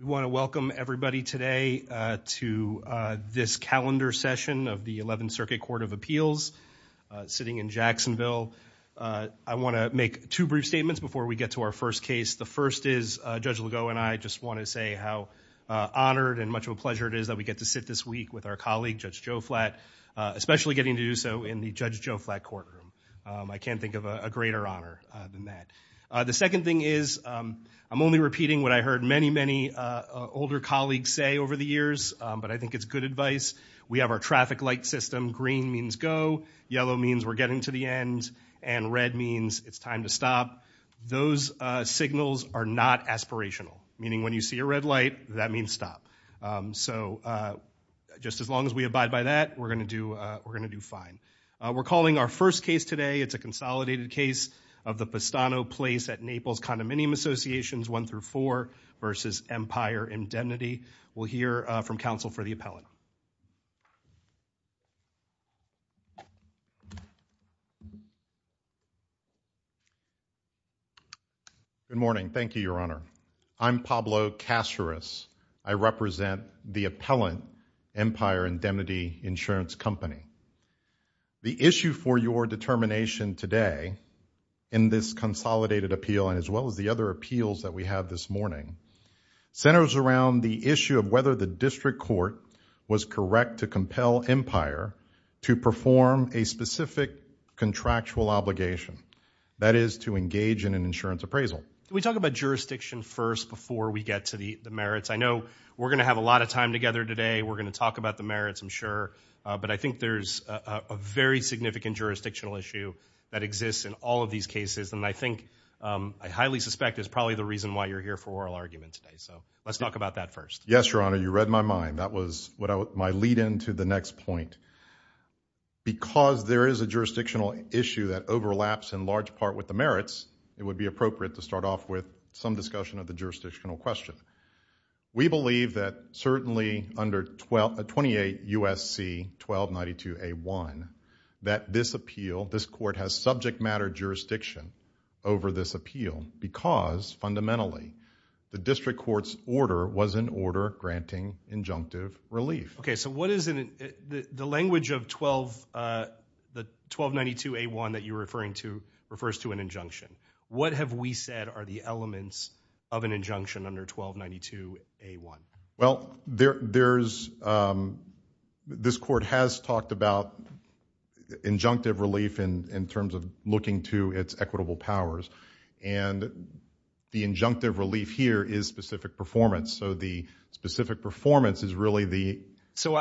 We want to welcome everybody today to this calendar session of the 11th Circuit Court of Appeals, sitting in Jacksonville. I want to make two brief statements before we get to our first case. The first is, Judge Legault and I just want to say how honored and much of a pleasure it is that we get to sit this week with our colleague, Judge Joe Flatt, especially getting to do so in the Judge Joe Flatt courtroom. I can't think of a greater honor than that. The second thing is, I'm only repeating what I heard many, many older colleagues say over the years, but I think it's good advice. We have our traffic light system, green means go, yellow means we're getting to the end, and red means it's time to stop. Those signals are not aspirational, meaning when you see a red light, that means stop. So just as long as we abide by that, we're going to do fine. We're calling our first case today. It's a consolidated case of the Pestano Place at Naples Condominium Associations, 1-4, versus Empire Indemnity. We'll hear from counsel for the appellant. Good morning. Thank you, Your Honor. I'm Pablo Caceres. I represent the appellant, Empire Indemnity Insurance Company. The issue for your determination today in this consolidated appeal, and as well as the other appeals that we have this morning, centers around the issue of whether the district court was correct to compel Empire to perform a specific contractual obligation, that is, to engage in an insurance appraisal. We talk about jurisdiction first before we get to the merits. I know we're going to have a lot of time together today. We're going to talk about the merits, I'm sure, but I think there's a very significant jurisdictional issue that exists in all of these cases, and I think, I highly suspect is probably the reason why you're here for oral argument today. So let's talk about that first. Yes, Your Honor. You read my mind. That was my lead-in to the next point. Because there is a jurisdictional issue that overlaps in large part with the merits, it would be appropriate to start off with some discussion of the jurisdictional question. We believe that certainly under 28 U.S.C. 1292A1, that this appeal, this court has subject matter jurisdiction over this appeal because, fundamentally, the district court's order was an order granting injunctive relief. Okay. So what is the language of 1292A1 that you're referring to refers to an injunction? What have we said are the elements of an injunction under 1292A1? Well, there's, this court has talked about injunctive relief in terms of looking to its equitable powers, and the injunctive relief here is specific performance. So the specific performance is really the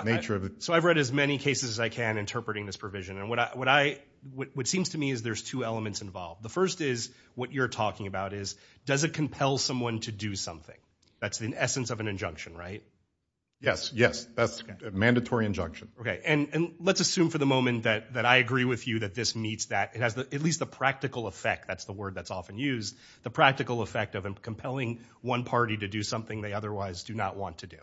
nature of it. So I've read as many cases as I can interpreting this provision, and what I, what seems to me is there's two elements involved. The first is, what you're talking about is, does it compel someone to do something? That's the essence of an injunction, right? Yes, yes. That's a mandatory injunction. Okay. And let's assume for the moment that I agree with you that this meets that, it has at least the practical effect, that's the word that's often used, the practical effect of compelling one party to do something they otherwise do not want to do.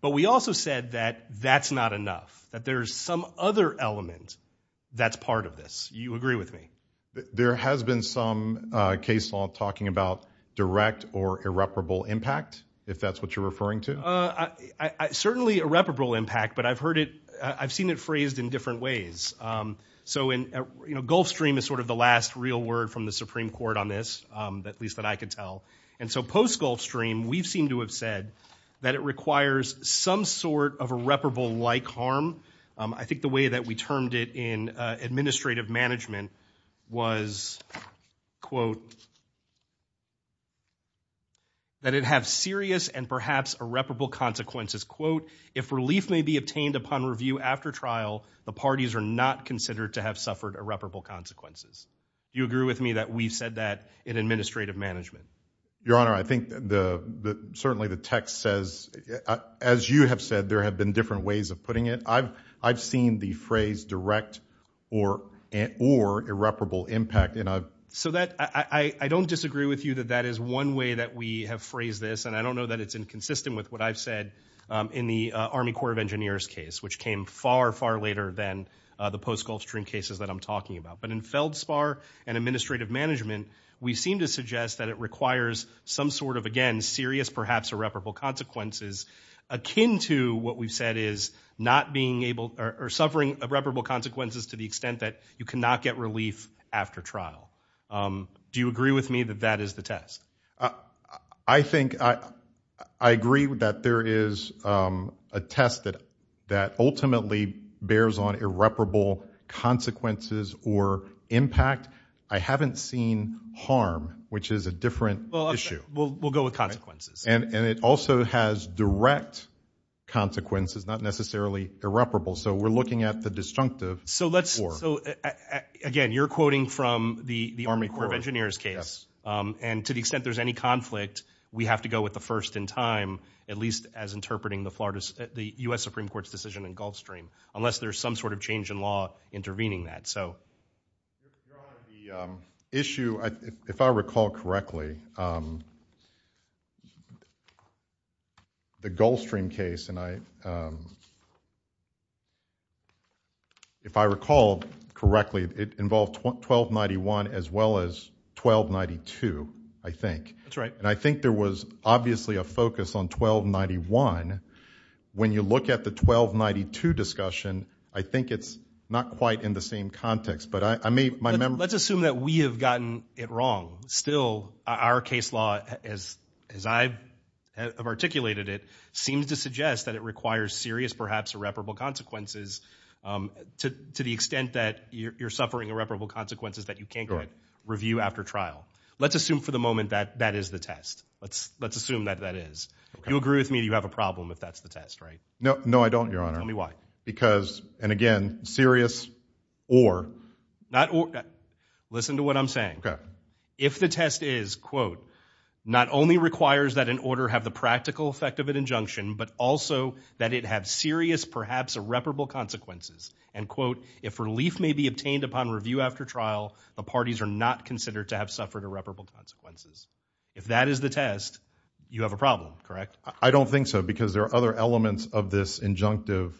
But we also said that that's not enough, that there's some other element that's part of this. You agree with me? There has been some case law talking about direct or irreparable impact, if that's what you're referring to? Certainly irreparable impact, but I've heard it, I've seen it phrased in different ways. So in, you know, Gulfstream is sort of the last real word from the Supreme Court on this, at least that I can tell. And so post-Gulfstream, we've seemed to have said that it requires some sort of irreparable-like harm. I think the way that we termed it in administrative management was, quote, that it have serious and perhaps irreparable consequences, quote, if relief may be obtained upon review after trial, the parties are not considered to have suffered irreparable consequences. You agree with me that we've said that in administrative management? Your Honor, I think the, certainly the text says, as you have said, there have been different ways of putting it. I've seen the phrase direct or irreparable impact. So that, I don't disagree with you that that is one way that we have phrased this, and I don't know that it's inconsistent with what I've said in the Army Corps of Engineers case, which came far, far later than the post-Gulfstream cases that I'm talking about. But in Feldspar and administrative management, we seem to suggest that it requires some sort of, again, serious, perhaps irreparable consequences, akin to what we've said is not being able or suffering irreparable consequences to the extent that you cannot get relief after trial. Do you agree with me that that is the test? I think, I agree that there is a test that ultimately bears on irreparable consequences or impact. I haven't seen harm, which is a different issue. We'll go with consequences. And it also has direct consequences, not necessarily irreparable. So we're looking at the disjunctive. So let's, again, you're quoting from the Army Corps of Engineers case. And to the extent there's any conflict, we have to go with the first in time, at least as interpreting the Florida, the U.S. Supreme Court's decision in Gulfstream, unless there's some sort of change in law intervening that. So. Your Honor, the issue, if I recall correctly, the Gulfstream case, and I, if I recall correctly, it involved 1291 as well as 1292, I think. That's right. And I think there was obviously a focus on 1291. When you look at the 1292 discussion, I think it's not quite in the same context, but I may, my memory. Let's assume that we have gotten it wrong. Still, our case law, as I have articulated it, seems to suggest that it requires serious, perhaps irreparable consequences to the extent that you're suffering irreparable consequences that you can't review after trial. Let's assume for the moment that that is the test. Let's assume that that is. You agree with me that you have a problem if that's the test, right? No, I don't, Your Honor. Tell me why. Because, and again, serious or. Not or. Listen to what I'm saying. If the test is, quote, not only requires that an order have the practical effect of an injunction, but also that it have serious, perhaps irreparable consequences. And quote, if relief may be obtained upon review after trial, the parties are not considered to have suffered irreparable consequences. If that is the test, you have a problem, correct? I don't think so, because there are other elements of this injunctive,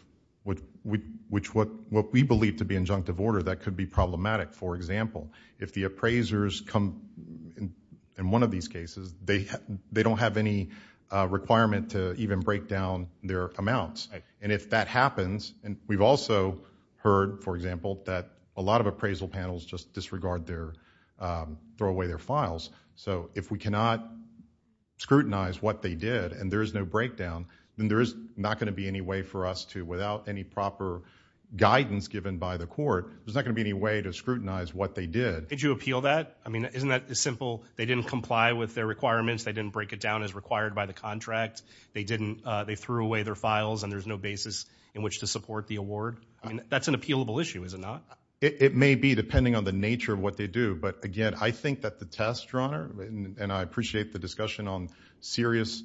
which what we believe to be injunctive order that could be problematic. For example, if the appraisers come in one of these cases, they don't have any requirement to even break down their amounts. And if that happens, and we've also heard, for example, that a lot of appraisal panels just disregard their, throw away their files. So if we cannot scrutinize what they did, and there is no breakdown, then there is not going to be any way for us to, without any proper guidance given by the court, there's not going to be any way to scrutinize what they did. Did you appeal that? I mean, isn't that simple? They didn't comply with their requirements. They didn't break it down as required by the contract. They didn't, they threw away their files, and there's no basis in which to support the award. I mean, that's an appealable issue, is it not? It may be, depending on the nature of what they do. But again, I think that the test, Your Honor, and I appreciate the discussion on serious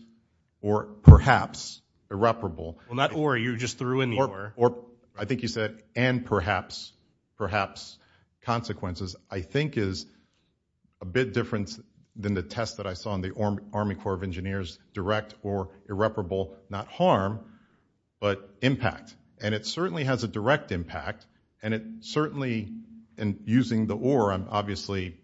or perhaps irreparable. Well, not or, you just threw in the or. I think you said, and perhaps, perhaps consequences, I think is a bit different than the test that I saw in the Army Corps of Engineers, direct or irreparable, not harm, but impact. And it certainly has a direct impact. And it certainly, in using the or, I'm obviously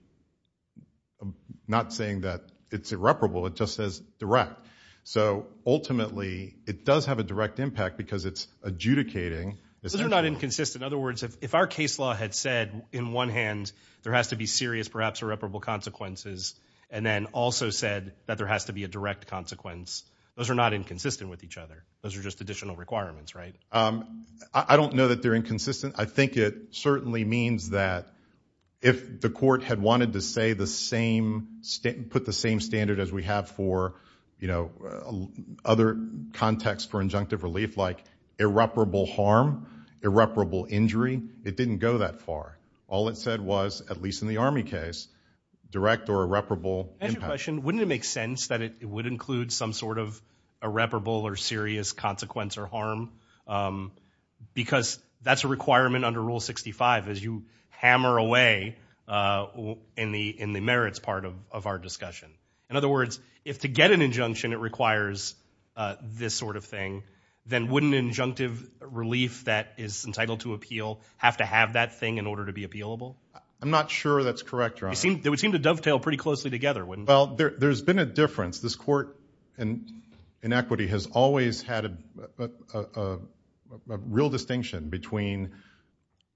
not saying that it's irreparable, it just says direct. So ultimately, it does have a direct impact because it's adjudicating. Those are not inconsistent. In other words, if our case law had said, in one hand, there has to be serious, perhaps irreparable consequences, and then also said that there has to be a direct consequence, those are not inconsistent with each other. Those are just additional requirements, right? I don't know that they're inconsistent. I think it certainly means that if the court had wanted to say the same, put the same standard as we have for, you know, other contexts for injunctive relief, like irreparable harm, irreparable injury, it didn't go that far. All it said was, at least in the Army case, direct or irreparable impact. I have a question. Wouldn't it make sense that it would include some sort of irreparable or serious consequence or harm? Because that's a requirement under Rule 65, as you hammer away in the merits part of our discussion. In other words, if to get an injunction, it requires this sort of thing, then wouldn't injunctive relief that is entitled to appeal have to have that thing in order to be appealable? I'm not sure that's correct, Your Honor. They would seem to dovetail pretty closely together, wouldn't they? Well, there's been a difference. This court in equity has always had a real distinction between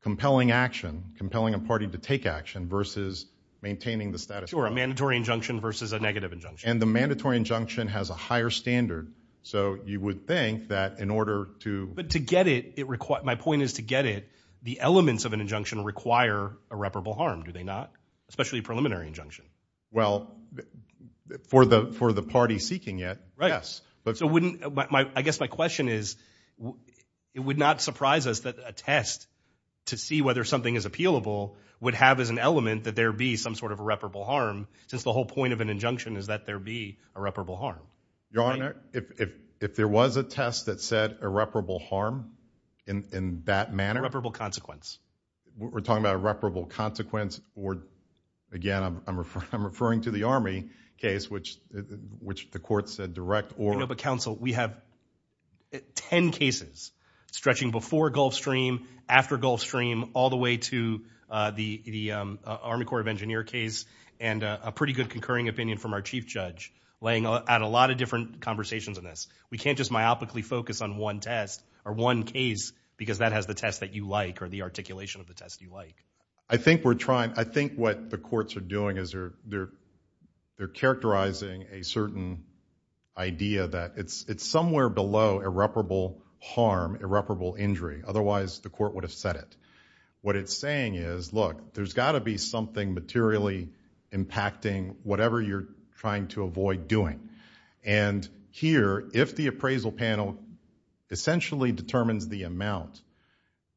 compelling action, compelling a party to take action, versus maintaining the status quo. Sure, a mandatory injunction versus a negative injunction. And the mandatory injunction has a higher standard. So you would think that in order to... But to get it, my point is to get it, the elements of an injunction require irreparable harm, do they not? Especially preliminary injunction. Well, for the party seeking it, yes. So I guess my question is, it would not surprise us that a test to see whether something is appealable would have as an element that there be some sort of irreparable harm, since the whole point of an injunction is that there be irreparable harm. Your Honor, if there was a test that said irreparable harm in that manner... Irreparable consequence. We're talking about irreparable consequence, or again, I'm referring to the Army case, which the court said direct or... No, but counsel, we have 10 cases stretching before Gulfstream, after Gulfstream, all the way to the Army Corps of Engineers case, and a pretty good concurring opinion from our chief judge laying out a lot of different conversations on this. We can't just myopically focus on one test, or one case, because that has the test that you like, or the articulation of the test you like. I think we're trying... I think what the courts are doing is they're characterizing a certain idea that it's somewhere below irreparable harm, irreparable injury, otherwise the court would have said it. What it's saying is, look, there's got to be something materially impacting whatever you're trying to avoid doing. And here, if the appraisal panel essentially determines the amount,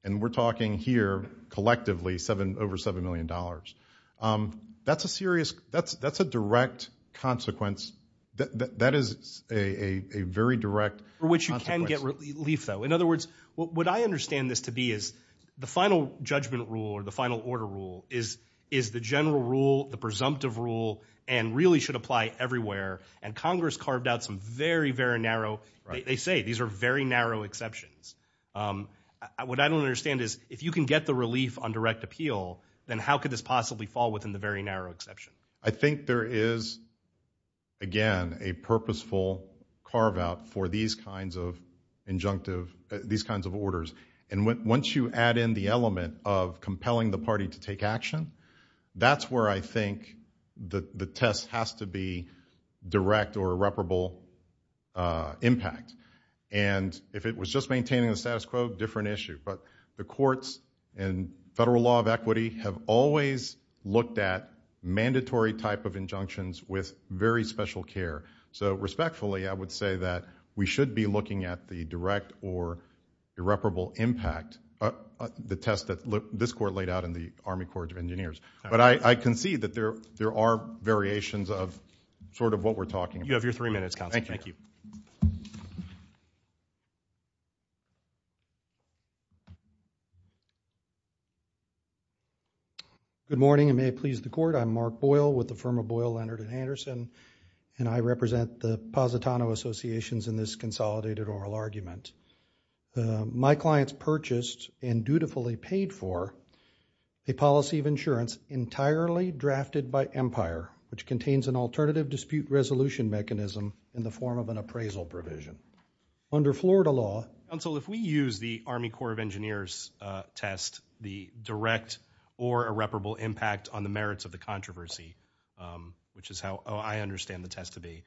and we're talking here collectively over $7 million, that's a serious... That's a direct consequence. That is a very direct consequence. Which you can get relief, though. In other words, what I understand this to be is the final judgment rule, or the final order rule, is the general rule, the presumptive rule, and really should apply everywhere, and Congress carved out some very, very narrow... They say these are very narrow exceptions. What I don't understand is, if you can get the relief on direct appeal, then how could this possibly fall within the very narrow exception? I think there is, again, a purposeful carve-out for these kinds of injunctive... These kinds of orders. And once you add in the element of compelling the party to take action, that's where I think the test has to be direct or irreparable impact. And if it was just maintaining the status quo, different issue. But the courts and federal law of equity have always looked at mandatory type of injunctions with very special care. So respectfully, I would say that we should be looking at the direct or irreparable impact, the test that this court laid out in the Army Court of Engineers. But I can see that there are variations of sort of what we're talking about. You have your three minutes, Counselor. Thank you. Good morning, and may it please the Court. I'm Mark Boyle with the firm of Boyle, Leonard & Anderson, and I represent the Positano Associations in this consolidated oral argument. My clients purchased and dutifully paid for a policy of insurance entirely drafted by Empire, which contains an alternative dispute resolution mechanism in the form of an appraisal provision. Under Florida law... Counsel, if we use the Army Court of Engineers test, the direct or irreparable impact on the merits of the controversy, which is how I understand the test to be,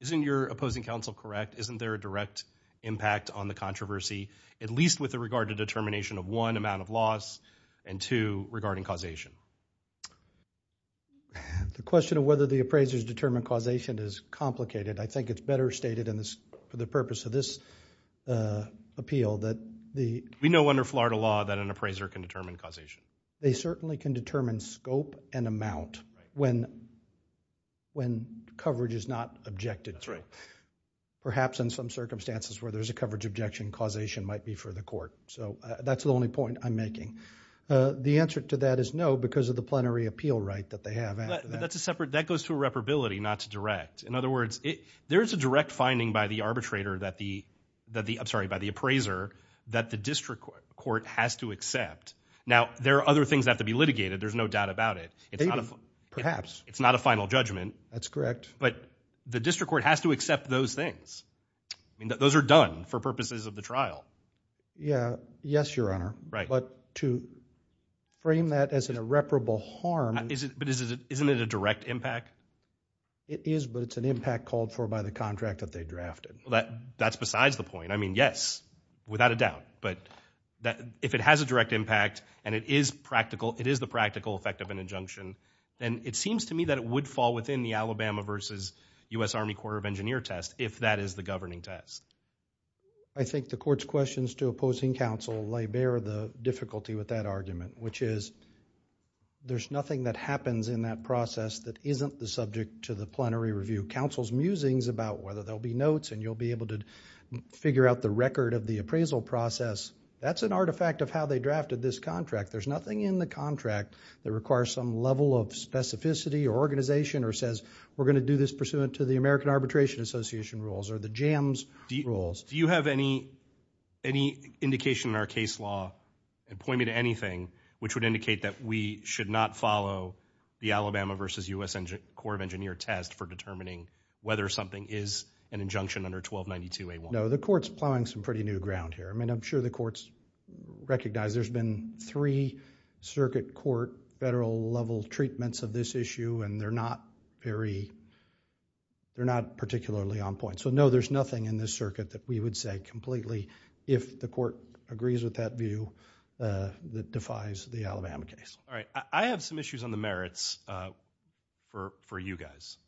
isn't your opposing counsel correct? Isn't there a direct impact on the controversy, at least with regard to the determination of one, amount of loss, and two, regarding causation? The question of whether the appraisers determine causation is complicated. I think it's better stated for the purpose of this appeal that the... We know under Florida law that an appraiser can determine causation. They certainly can determine scope and amount when coverage is not objected to. Perhaps in some circumstances where there's a coverage objection, causation might be for the court. So that's the only point I'm making. The answer to that is no, because of the plenary appeal right that they have after that. That goes to irreparability, not to direct. In other words, there's a direct finding by the appraiser that the district court has to accept. Now, there are other things that have to be litigated. There's no doubt about it. It's not a... Perhaps. It's not a final judgment. That's correct. But the district court has to accept those things. Those are done for purposes of the trial. Yeah. Yes, Your Honor. Right. But to frame that as an irreparable harm... But isn't it a direct impact? It is, but it's an impact called for by the contract that they drafted. That's besides the point. I mean, yes, without a doubt. But if it has a direct impact and it is the practical effect of an injunction, then it seems to me that it would fall within the Alabama versus U.S. Army Corps of Engineers test if that is the governing test. I think the court's questions to opposing counsel lay bare the difficulty with that argument, which is there's nothing that happens in that process that isn't the subject to the plenary review. Counsel's musings about whether there'll be notes and you'll be able to figure out the appraisal process, that's an artifact of how they drafted this contract. There's nothing in the contract that requires some level of specificity or organization or says we're going to do this pursuant to the American Arbitration Association rules or the JAMS rules. Do you have any indication in our case law, and point me to anything, which would indicate that we should not follow the Alabama versus U.S. Corps of Engineers test for determining whether something is an injunction under 1292A1? No, the court's plowing some pretty new ground here. I'm sure the court's recognized there's been three circuit court federal level treatments of this issue and they're not particularly on point. No, there's nothing in this circuit that we would say completely if the court agrees with that view that defies the Alabama case. I have some issues on the merits for you guys,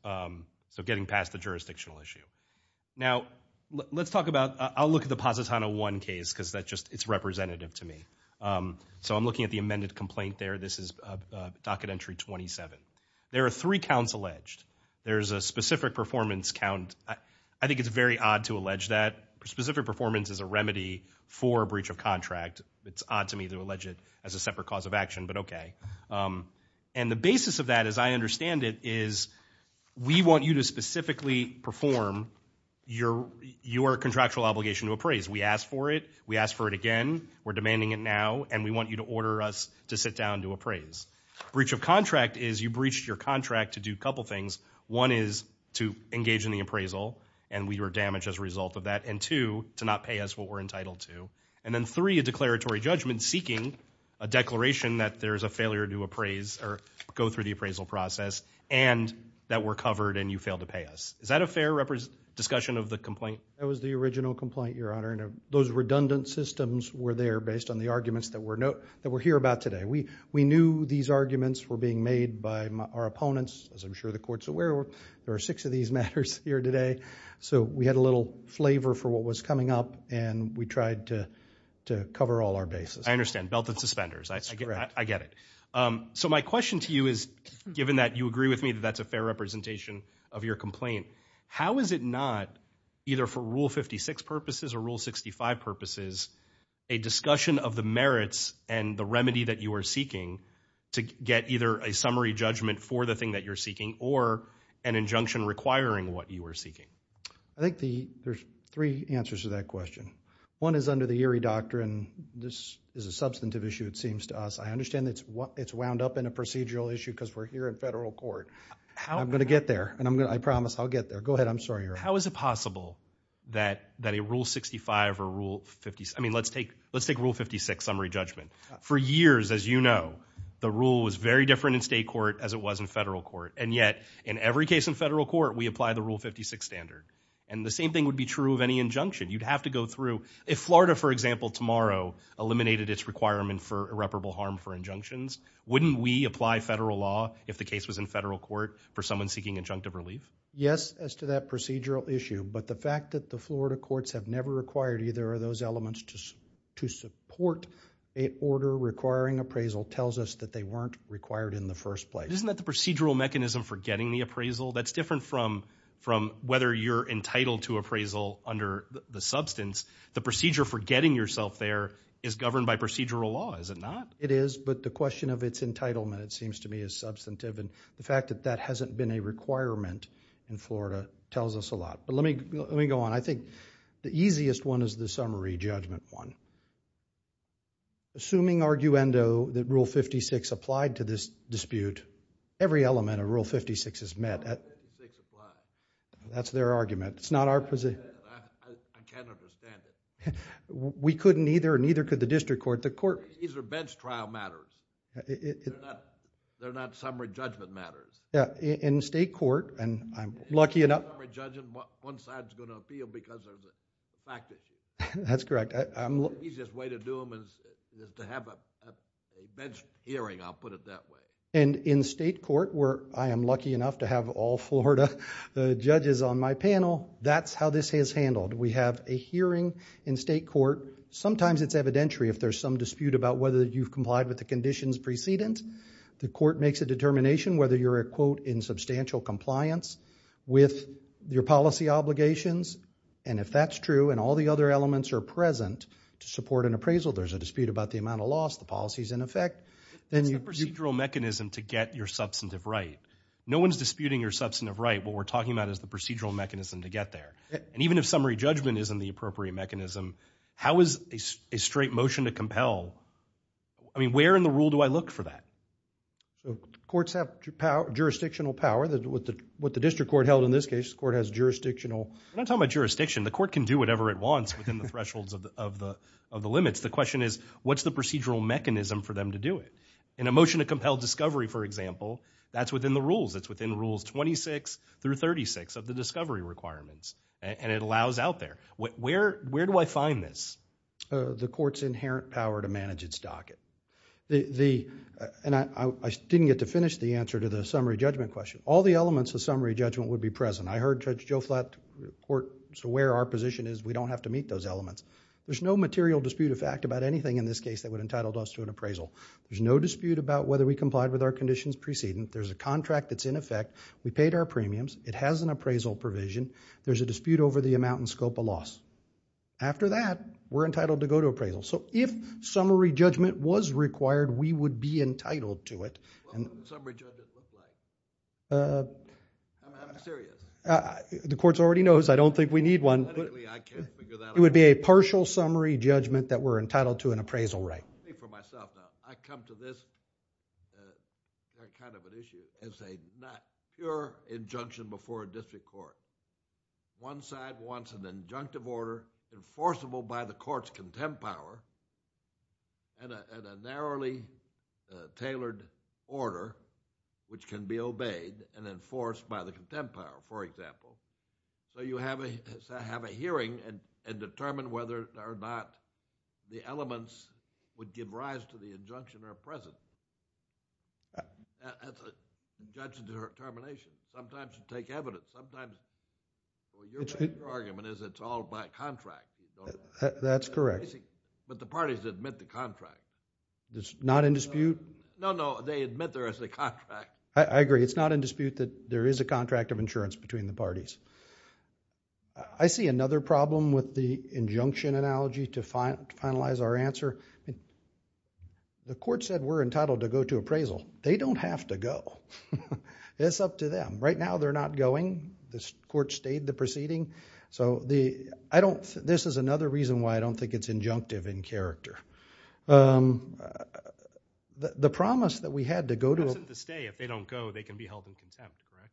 so getting past the jurisdictional issue. Now, let's talk about, I'll look at the Positano 1 case because it's representative to me. So I'm looking at the amended complaint there. This is docket entry 27. There are three counts alleged. There's a specific performance count. I think it's very odd to allege that. Specific performance is a remedy for a breach of contract. It's odd to me to allege it as a separate cause of action, but okay. And the basis of that, as I understand it, is we want you to specifically perform your contractual obligation to appraise. We asked for it. We asked for it again. We're demanding it now, and we want you to order us to sit down and do appraise. Breach of contract is you breached your contract to do a couple things. One is to engage in the appraisal, and we were damaged as a result of that. And two, to not pay us what we're entitled to. And then three, a declaratory judgment seeking a declaration that there's a failure to appraise or go through the appraisal process, and that we're covered and you failed to pay us. Is that a fair discussion of the complaint? That was the original complaint, Your Honor, and those redundant systems were there based on the arguments that were here about today. We knew these arguments were being made by our opponents, as I'm sure the courts are aware of. There are six of these matters here today. So we had a little flavor for what was coming up, and we tried to cover all our bases. I understand. Belted suspenders. That's correct. I get it. So my question to you is, given that you agree with me that that's a fair representation of your complaint, how is it not, either for Rule 56 purposes or Rule 65 purposes, a discussion of the merits and the remedy that you are seeking to get either a summary judgment for the thing that you're seeking or an injunction requiring what you are seeking? I think there's three answers to that question. One is under the Erie Doctrine, this is a substantive issue, it seems to us. I understand it's wound up in a procedural issue because we're here in federal court. I'm going to get there, and I promise I'll get there. Go ahead, I'm sorry, Your Honor. How is it possible that a Rule 65 or Rule 56, I mean, let's take Rule 56, summary judgment. For years, as you know, the rule was very different in state court as it was in federal court. And yet, in every case in federal court, we apply the Rule 56 standard. And the same thing would be true of any injunction. You'd have to go through, if Florida, for example, tomorrow eliminated its requirement for irreparable harm for injunctions, wouldn't we apply federal law if the case was in federal court for someone seeking injunctive relief? Yes, as to that procedural issue. But the fact that the Florida courts have never required either of those elements to support an order requiring appraisal tells us that they weren't required in the first place. Isn't that the procedural mechanism for getting the appraisal? That's different from whether you're entitled to appraisal under the substance. The procedure for getting yourself there is governed by procedural law, is it not? It is, but the question of its entitlement, it seems to me, is substantive. And the fact that that hasn't been a requirement in Florida tells us a lot. Let me go on. I think the easiest one is the summary judgment one. Assuming, arguendo, that Rule 56 applied to this dispute, every element of Rule 56 is met. Rule 56 applies. That's their argument. It's not our position. I can't understand it. We couldn't either, and neither could the district court. These are bench trial matters. They're not summary judgment matters. Yeah, in state court, and I'm lucky enough... In summary judgment, one side's going to appeal because of the fact that you... That's correct. The easiest way to do them is to have a bench hearing, I'll put it that way. And in state court, where I am lucky enough to have all Florida judges on my panel, that's how this is handled. We have a hearing in state court. Sometimes it's evidentiary if there's some dispute about whether you've complied with the conditions precedent. The court makes a determination whether you're, quote, in substantial compliance with your policy obligations. And if that's true, and all the other elements are present to support an appraisal, there's a dispute about the amount of loss, the policy's in effect, then you... It's a procedural mechanism to get your substantive right. No one's disputing your substantive right. What we're talking about is the procedural mechanism to get there. And even if summary judgment isn't the appropriate mechanism, how is a straight motion to compel... I mean, where in the rule do I look for that? Courts have jurisdictional power. What the district court held in this case, the court has jurisdictional... I'm not talking about jurisdiction. The court can do whatever it wants within the thresholds of the limits. The question is, what's the procedural mechanism for them to do it? In a motion to compel discovery, for example, that's within the rules. It's within rules 26 through 36 of the discovery requirements. And it allows out there. Where do I find this? The court's inherent power to manage its docket. And I didn't get to finish the answer to the summary judgment question. All the elements of summary judgment would be present. I heard Judge Joe Flatt report to where our position is. We don't have to meet those elements. There's no material dispute of fact about anything in this case that would have entitled us to an appraisal. There's no dispute about whether we complied with our conditions preceding. There's a contract that's in effect. We paid our premiums. It has an appraisal provision. There's a dispute over the amount and scope of loss. After that, we're entitled to go to appraisal. So if summary judgment was required, we would be entitled to it. Well, what does summary judgment look like? I'm serious. The court already knows. I don't think we need one. Technically, I can't figure that out. It would be a partial summary judgment that we're entitled to an appraisal right. I'll speak for myself now. I come to this kind of an issue as a pure injunction before a district court. One side wants an injunctive order enforceable by the court's contempt power and a narrowly tailored order which can be obeyed and enforced by the contempt power, for example. So you have a hearing and determine whether or not the elements would give rise to the injunction or present. That's a judgment or termination. Sometimes you take evidence. Sometimes your argument is it's all by contract. That's correct. But the parties admit the contract. It's not in dispute? No, no. They admit there is a contract. I agree. It's not in dispute that there is a contract of insurance between the parties. I see another problem with the injunction analogy to finalize our answer. The court said we're entitled to go to appraisal. They don't have to go. It's up to them. Right now, they're not going. The court stayed the proceeding. This is another reason why I don't think it's injunctive in character. The promise that we had to go to... Absent the stay, if they don't go, they can be held in contempt, correct?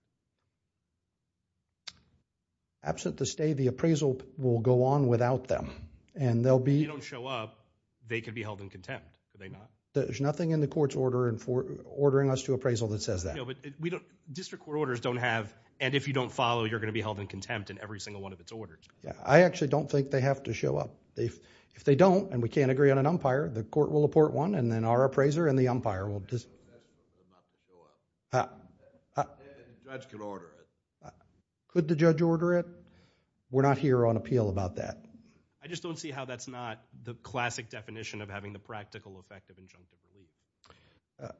Absent the stay, the appraisal will go on without them and they'll be... If they don't show up, they can be held in contempt. Are they not? There's nothing in the court's order ordering us to appraisal that says that. District court orders don't have, and if you don't follow, you're going to be held in contempt in every single one of its orders. I actually don't think they have to show up. If they don't and we can't agree on an umpire, the court will apport one and then our appraiser and the umpire will... The judge can order it. Could the judge order it? We're not here on appeal about that. I just don't see how that's not the classic definition of having the practical effect of injunctive relief.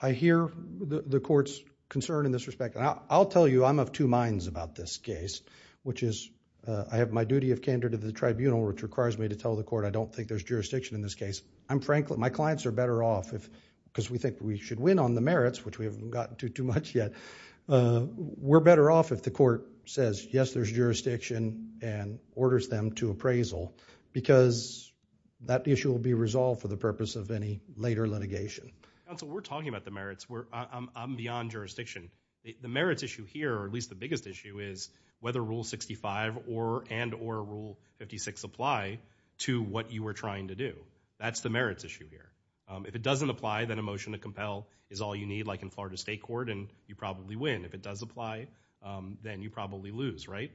I hear the court's concern in this respect. I'll tell you I'm of two minds about this case, which is I have my duty of candidate of the tribunal which requires me to tell the court I don't think there's jurisdiction in this case. I'm frankly... my clients are better off because we think we should win on the merits, which we haven't gotten to too much yet. We're better off if the court says, yes, there's jurisdiction and orders them to appraisal because that issue will be resolved for the purpose of any later litigation. Counsel, we're talking about the merits. I'm beyond jurisdiction. The merits issue here, or at least the biggest issue, is whether Rule 65 and or Rule 56 apply to what you were trying to do. That's the merits issue here. If it doesn't apply, then a motion to compel is all you need, like in Florida State Court, and you probably win. If it does apply, then you probably lose, right?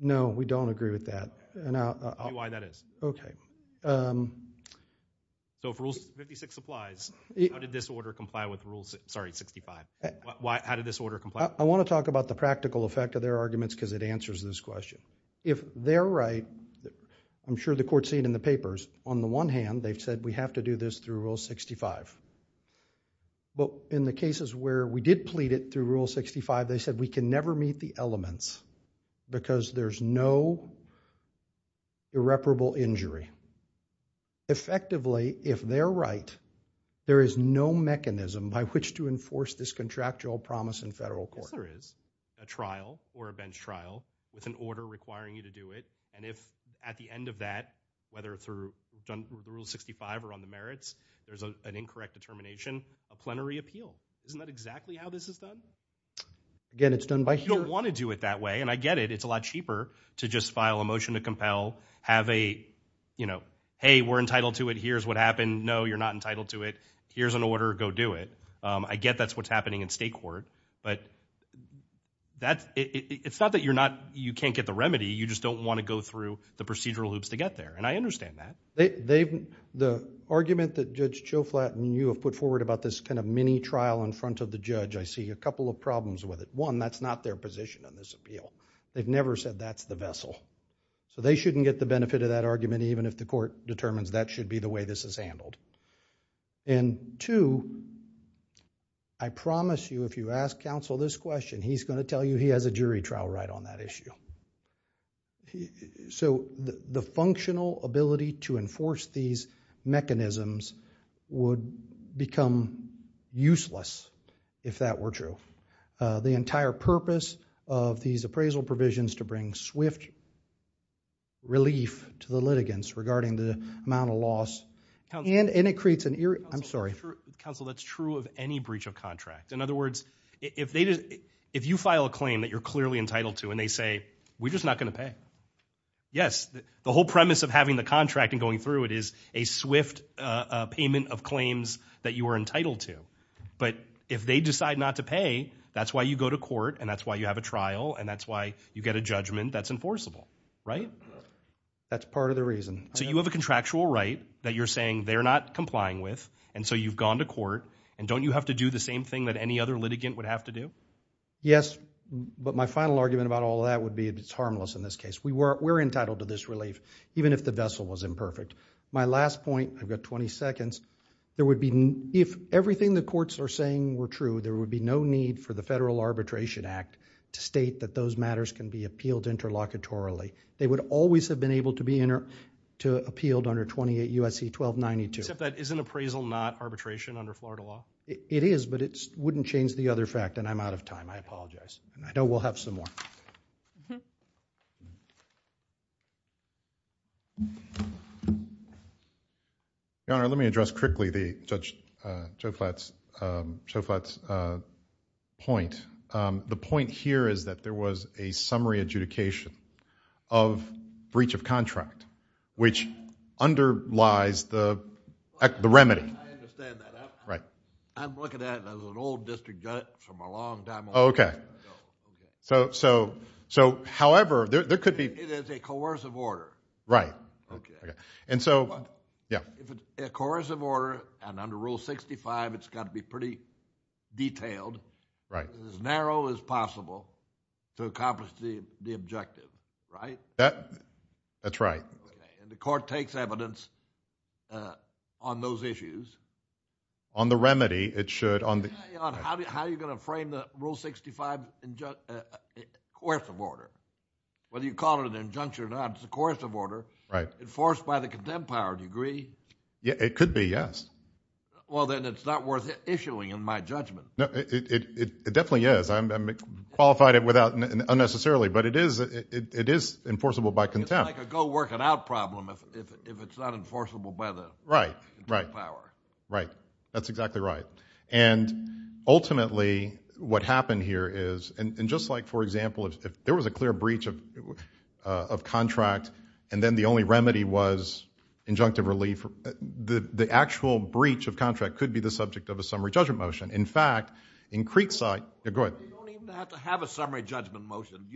No, we don't agree with that. I'll tell you why that is. Okay. If Rule 56 applies, how did this order comply with Rule... sorry, 65? How did this order comply? I want to talk about the practical effect of their arguments because it answers this question. If they're right, I'm sure the court's seen in the papers, on the one hand they've said we have to do this through Rule 65, but in the cases where we did plead it through Rule 65, they said we can never meet the elements because there's no irreparable injury. Effectively, if they're right, there is no mechanism by which to enforce this contractual promise in federal court. Yes, there is a trial or a bench trial with an order requiring you to do it, and if at the end of that, whether through Rule 65 or on the merits, there's an incorrect determination, a plenary appeal. Isn't that exactly how this is done? Again, it's done by... to just file a motion to compel, have a... hey, we're entitled to it. Here's what happened. No, you're not entitled to it. Here's an order. Go do it. I get that's what's happening in state court, but it's not that you're not... you can't get the remedy. You just don't want to go through the procedural loops to get there, and I understand that. The argument that Judge Choflat and you have put forward about this mini trial in front of the judge, I see a couple of problems with it. One, that's not their position on this appeal. They've never said that's the vessel. So they shouldn't get the benefit of that argument even if the court determines that should be the way this is handled. And two, I promise you if you ask counsel this question, he's going to tell you he has a jury trial right on that issue. So the functional ability to enforce these mechanisms would become useless if that were true. The entire purpose of these appraisal provisions to bring swift relief to the litigants regarding the amount of loss, and it creates an... I'm sorry. Counsel, that's true of any breach of contract. In other words, if you file a claim that you're clearly entitled to and they say, we're just not going to pay, yes, the whole premise of having the contract and going through it is a swift payment of claims that you are That's why you go to court and that's why you have a trial and that's why you get a judgment that's enforceable, right? That's part of the reason. So you have a contractual right that you're saying they're not complying with and so you've gone to court and don't you have to do the same thing that any other litigant would have to do? Yes, but my final argument about all that would be it's harmless in this case. We're entitled to this relief even if the vessel was imperfect. My last point, I've got 20 seconds, there would be... for the Federal Arbitration Act to state that those matters can be appealed interlocutorily. They would always have been able to be appealed under 28 U.S.C. 1292. Except that isn't appraisal not arbitration under Florida law? It is, but it wouldn't change the other fact and I'm out of time. I apologize. I know we'll have some more. Mm-hmm. Your Honor, let me address quickly Judge Schoflat's point. The point here is that there was a summary adjudication of breach of contract which underlies the remedy. I understand that. Right. I'm looking at it as an old district judge from a long time ago. Okay, so, however, there could be... It is a coercive order. Right. And so, yeah. If it's a coercive order and under Rule 65, it's got to be pretty detailed, as narrow as possible to accomplish the objective, right? That's right. And the court takes evidence on those issues. On the remedy, it should... How are you going to frame the Rule 65 coercive order? Whether you call it an injunction or not, it's a coercive order... Right.... enforced by the contempt power, do you agree? It could be, yes. Well, then it's not worth issuing in my judgment. No, it definitely is. I've qualified it unnecessarily, but it is enforceable by contempt. It's like a go-work-it-out problem if it's not enforceable by the power. Right, right, right. That's exactly right. And ultimately, what happened here is... And just like, for example, if there was a clear breach of contract, and then the only remedy was injunctive relief, the actual breach of contract could be the subject of a summary judgment motion. In fact, in Creekside... Go ahead. You don't even have to have a summary judgment motion.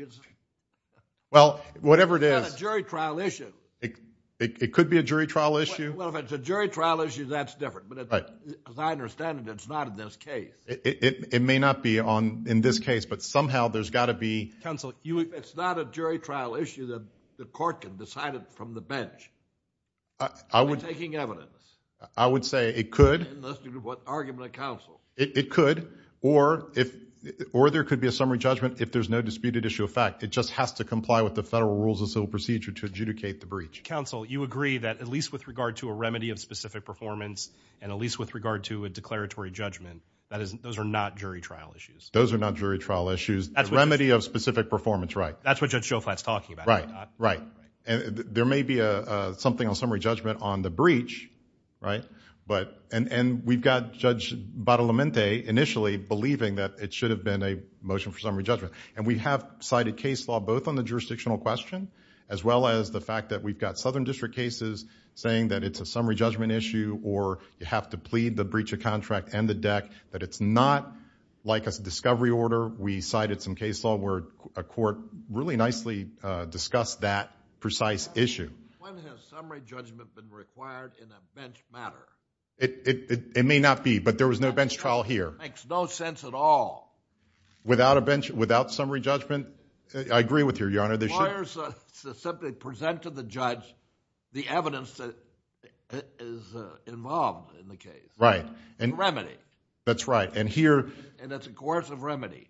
Well, whatever it is... It's not a jury trial issue. It could be a jury trial issue. Well, if it's a jury trial issue, that's different. Right. Because I understand that it's not in this case. It may not be in this case, but somehow there's got to be... Counsel, it's not a jury trial issue that the court can decide it from the bench. I would... By taking evidence. I would say it could... In this argument of counsel. It could, or there could be a summary judgment if there's no disputed issue of fact. It just has to comply with the federal rules of civil procedure to adjudicate the breach. Counsel, you agree that at least with regard to a remedy of specific performance, and at least with regard to a declaratory judgment, that is... Those are not jury trial issues. Those are not jury trial issues. The remedy of specific performance, right. That's what Judge Joe Flatt's talking about. Right. Right. And there may be something on summary judgment on the breach, right? But... And we've got Judge Bartolomente initially believing that it should have been a motion for summary judgment. And we have cited case law both on the jurisdictional question, as well as the fact that we've got Southern District cases saying that it's a summary judgment issue, or you have to plead the breach of contract and the deck, that it's not like a discovery order. We cited some case law where a court really nicely discussed that precise issue. When has summary judgment been required in a bench matter? It may not be, but there was no bench trial here. Makes no sense at all. Without summary judgment, I agree with you, Your Honor. Lawyers simply present to the judge the evidence that is involved in the case. Right. And remedy. That's right. And here... And that's a coercive remedy.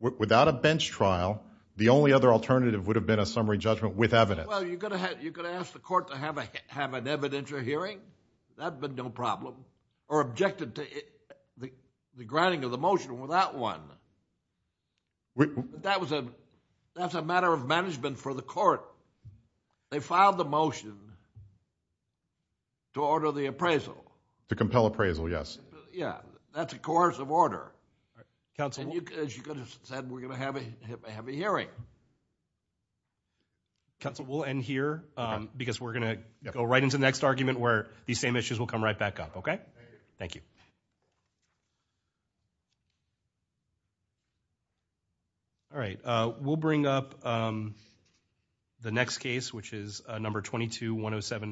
Without a bench trial, the only other alternative would have been a summary judgment with evidence. Well, you could ask the court to have an evidentiary hearing. That would have been no problem. Or objected to the granting of the motion without one. We... That was a... That's a matter of management for the court. They filed the motion to order the appraisal. To compel appraisal, yes. Yeah. That's a coercive order. Counsel... As you could have said, we're going to have a heavy hearing. Counsel, we'll end here because we're going to go right into the next argument where these same issues will come right back up, okay? Thank you. All right. We'll bring up the next case, which is number 22-107-9.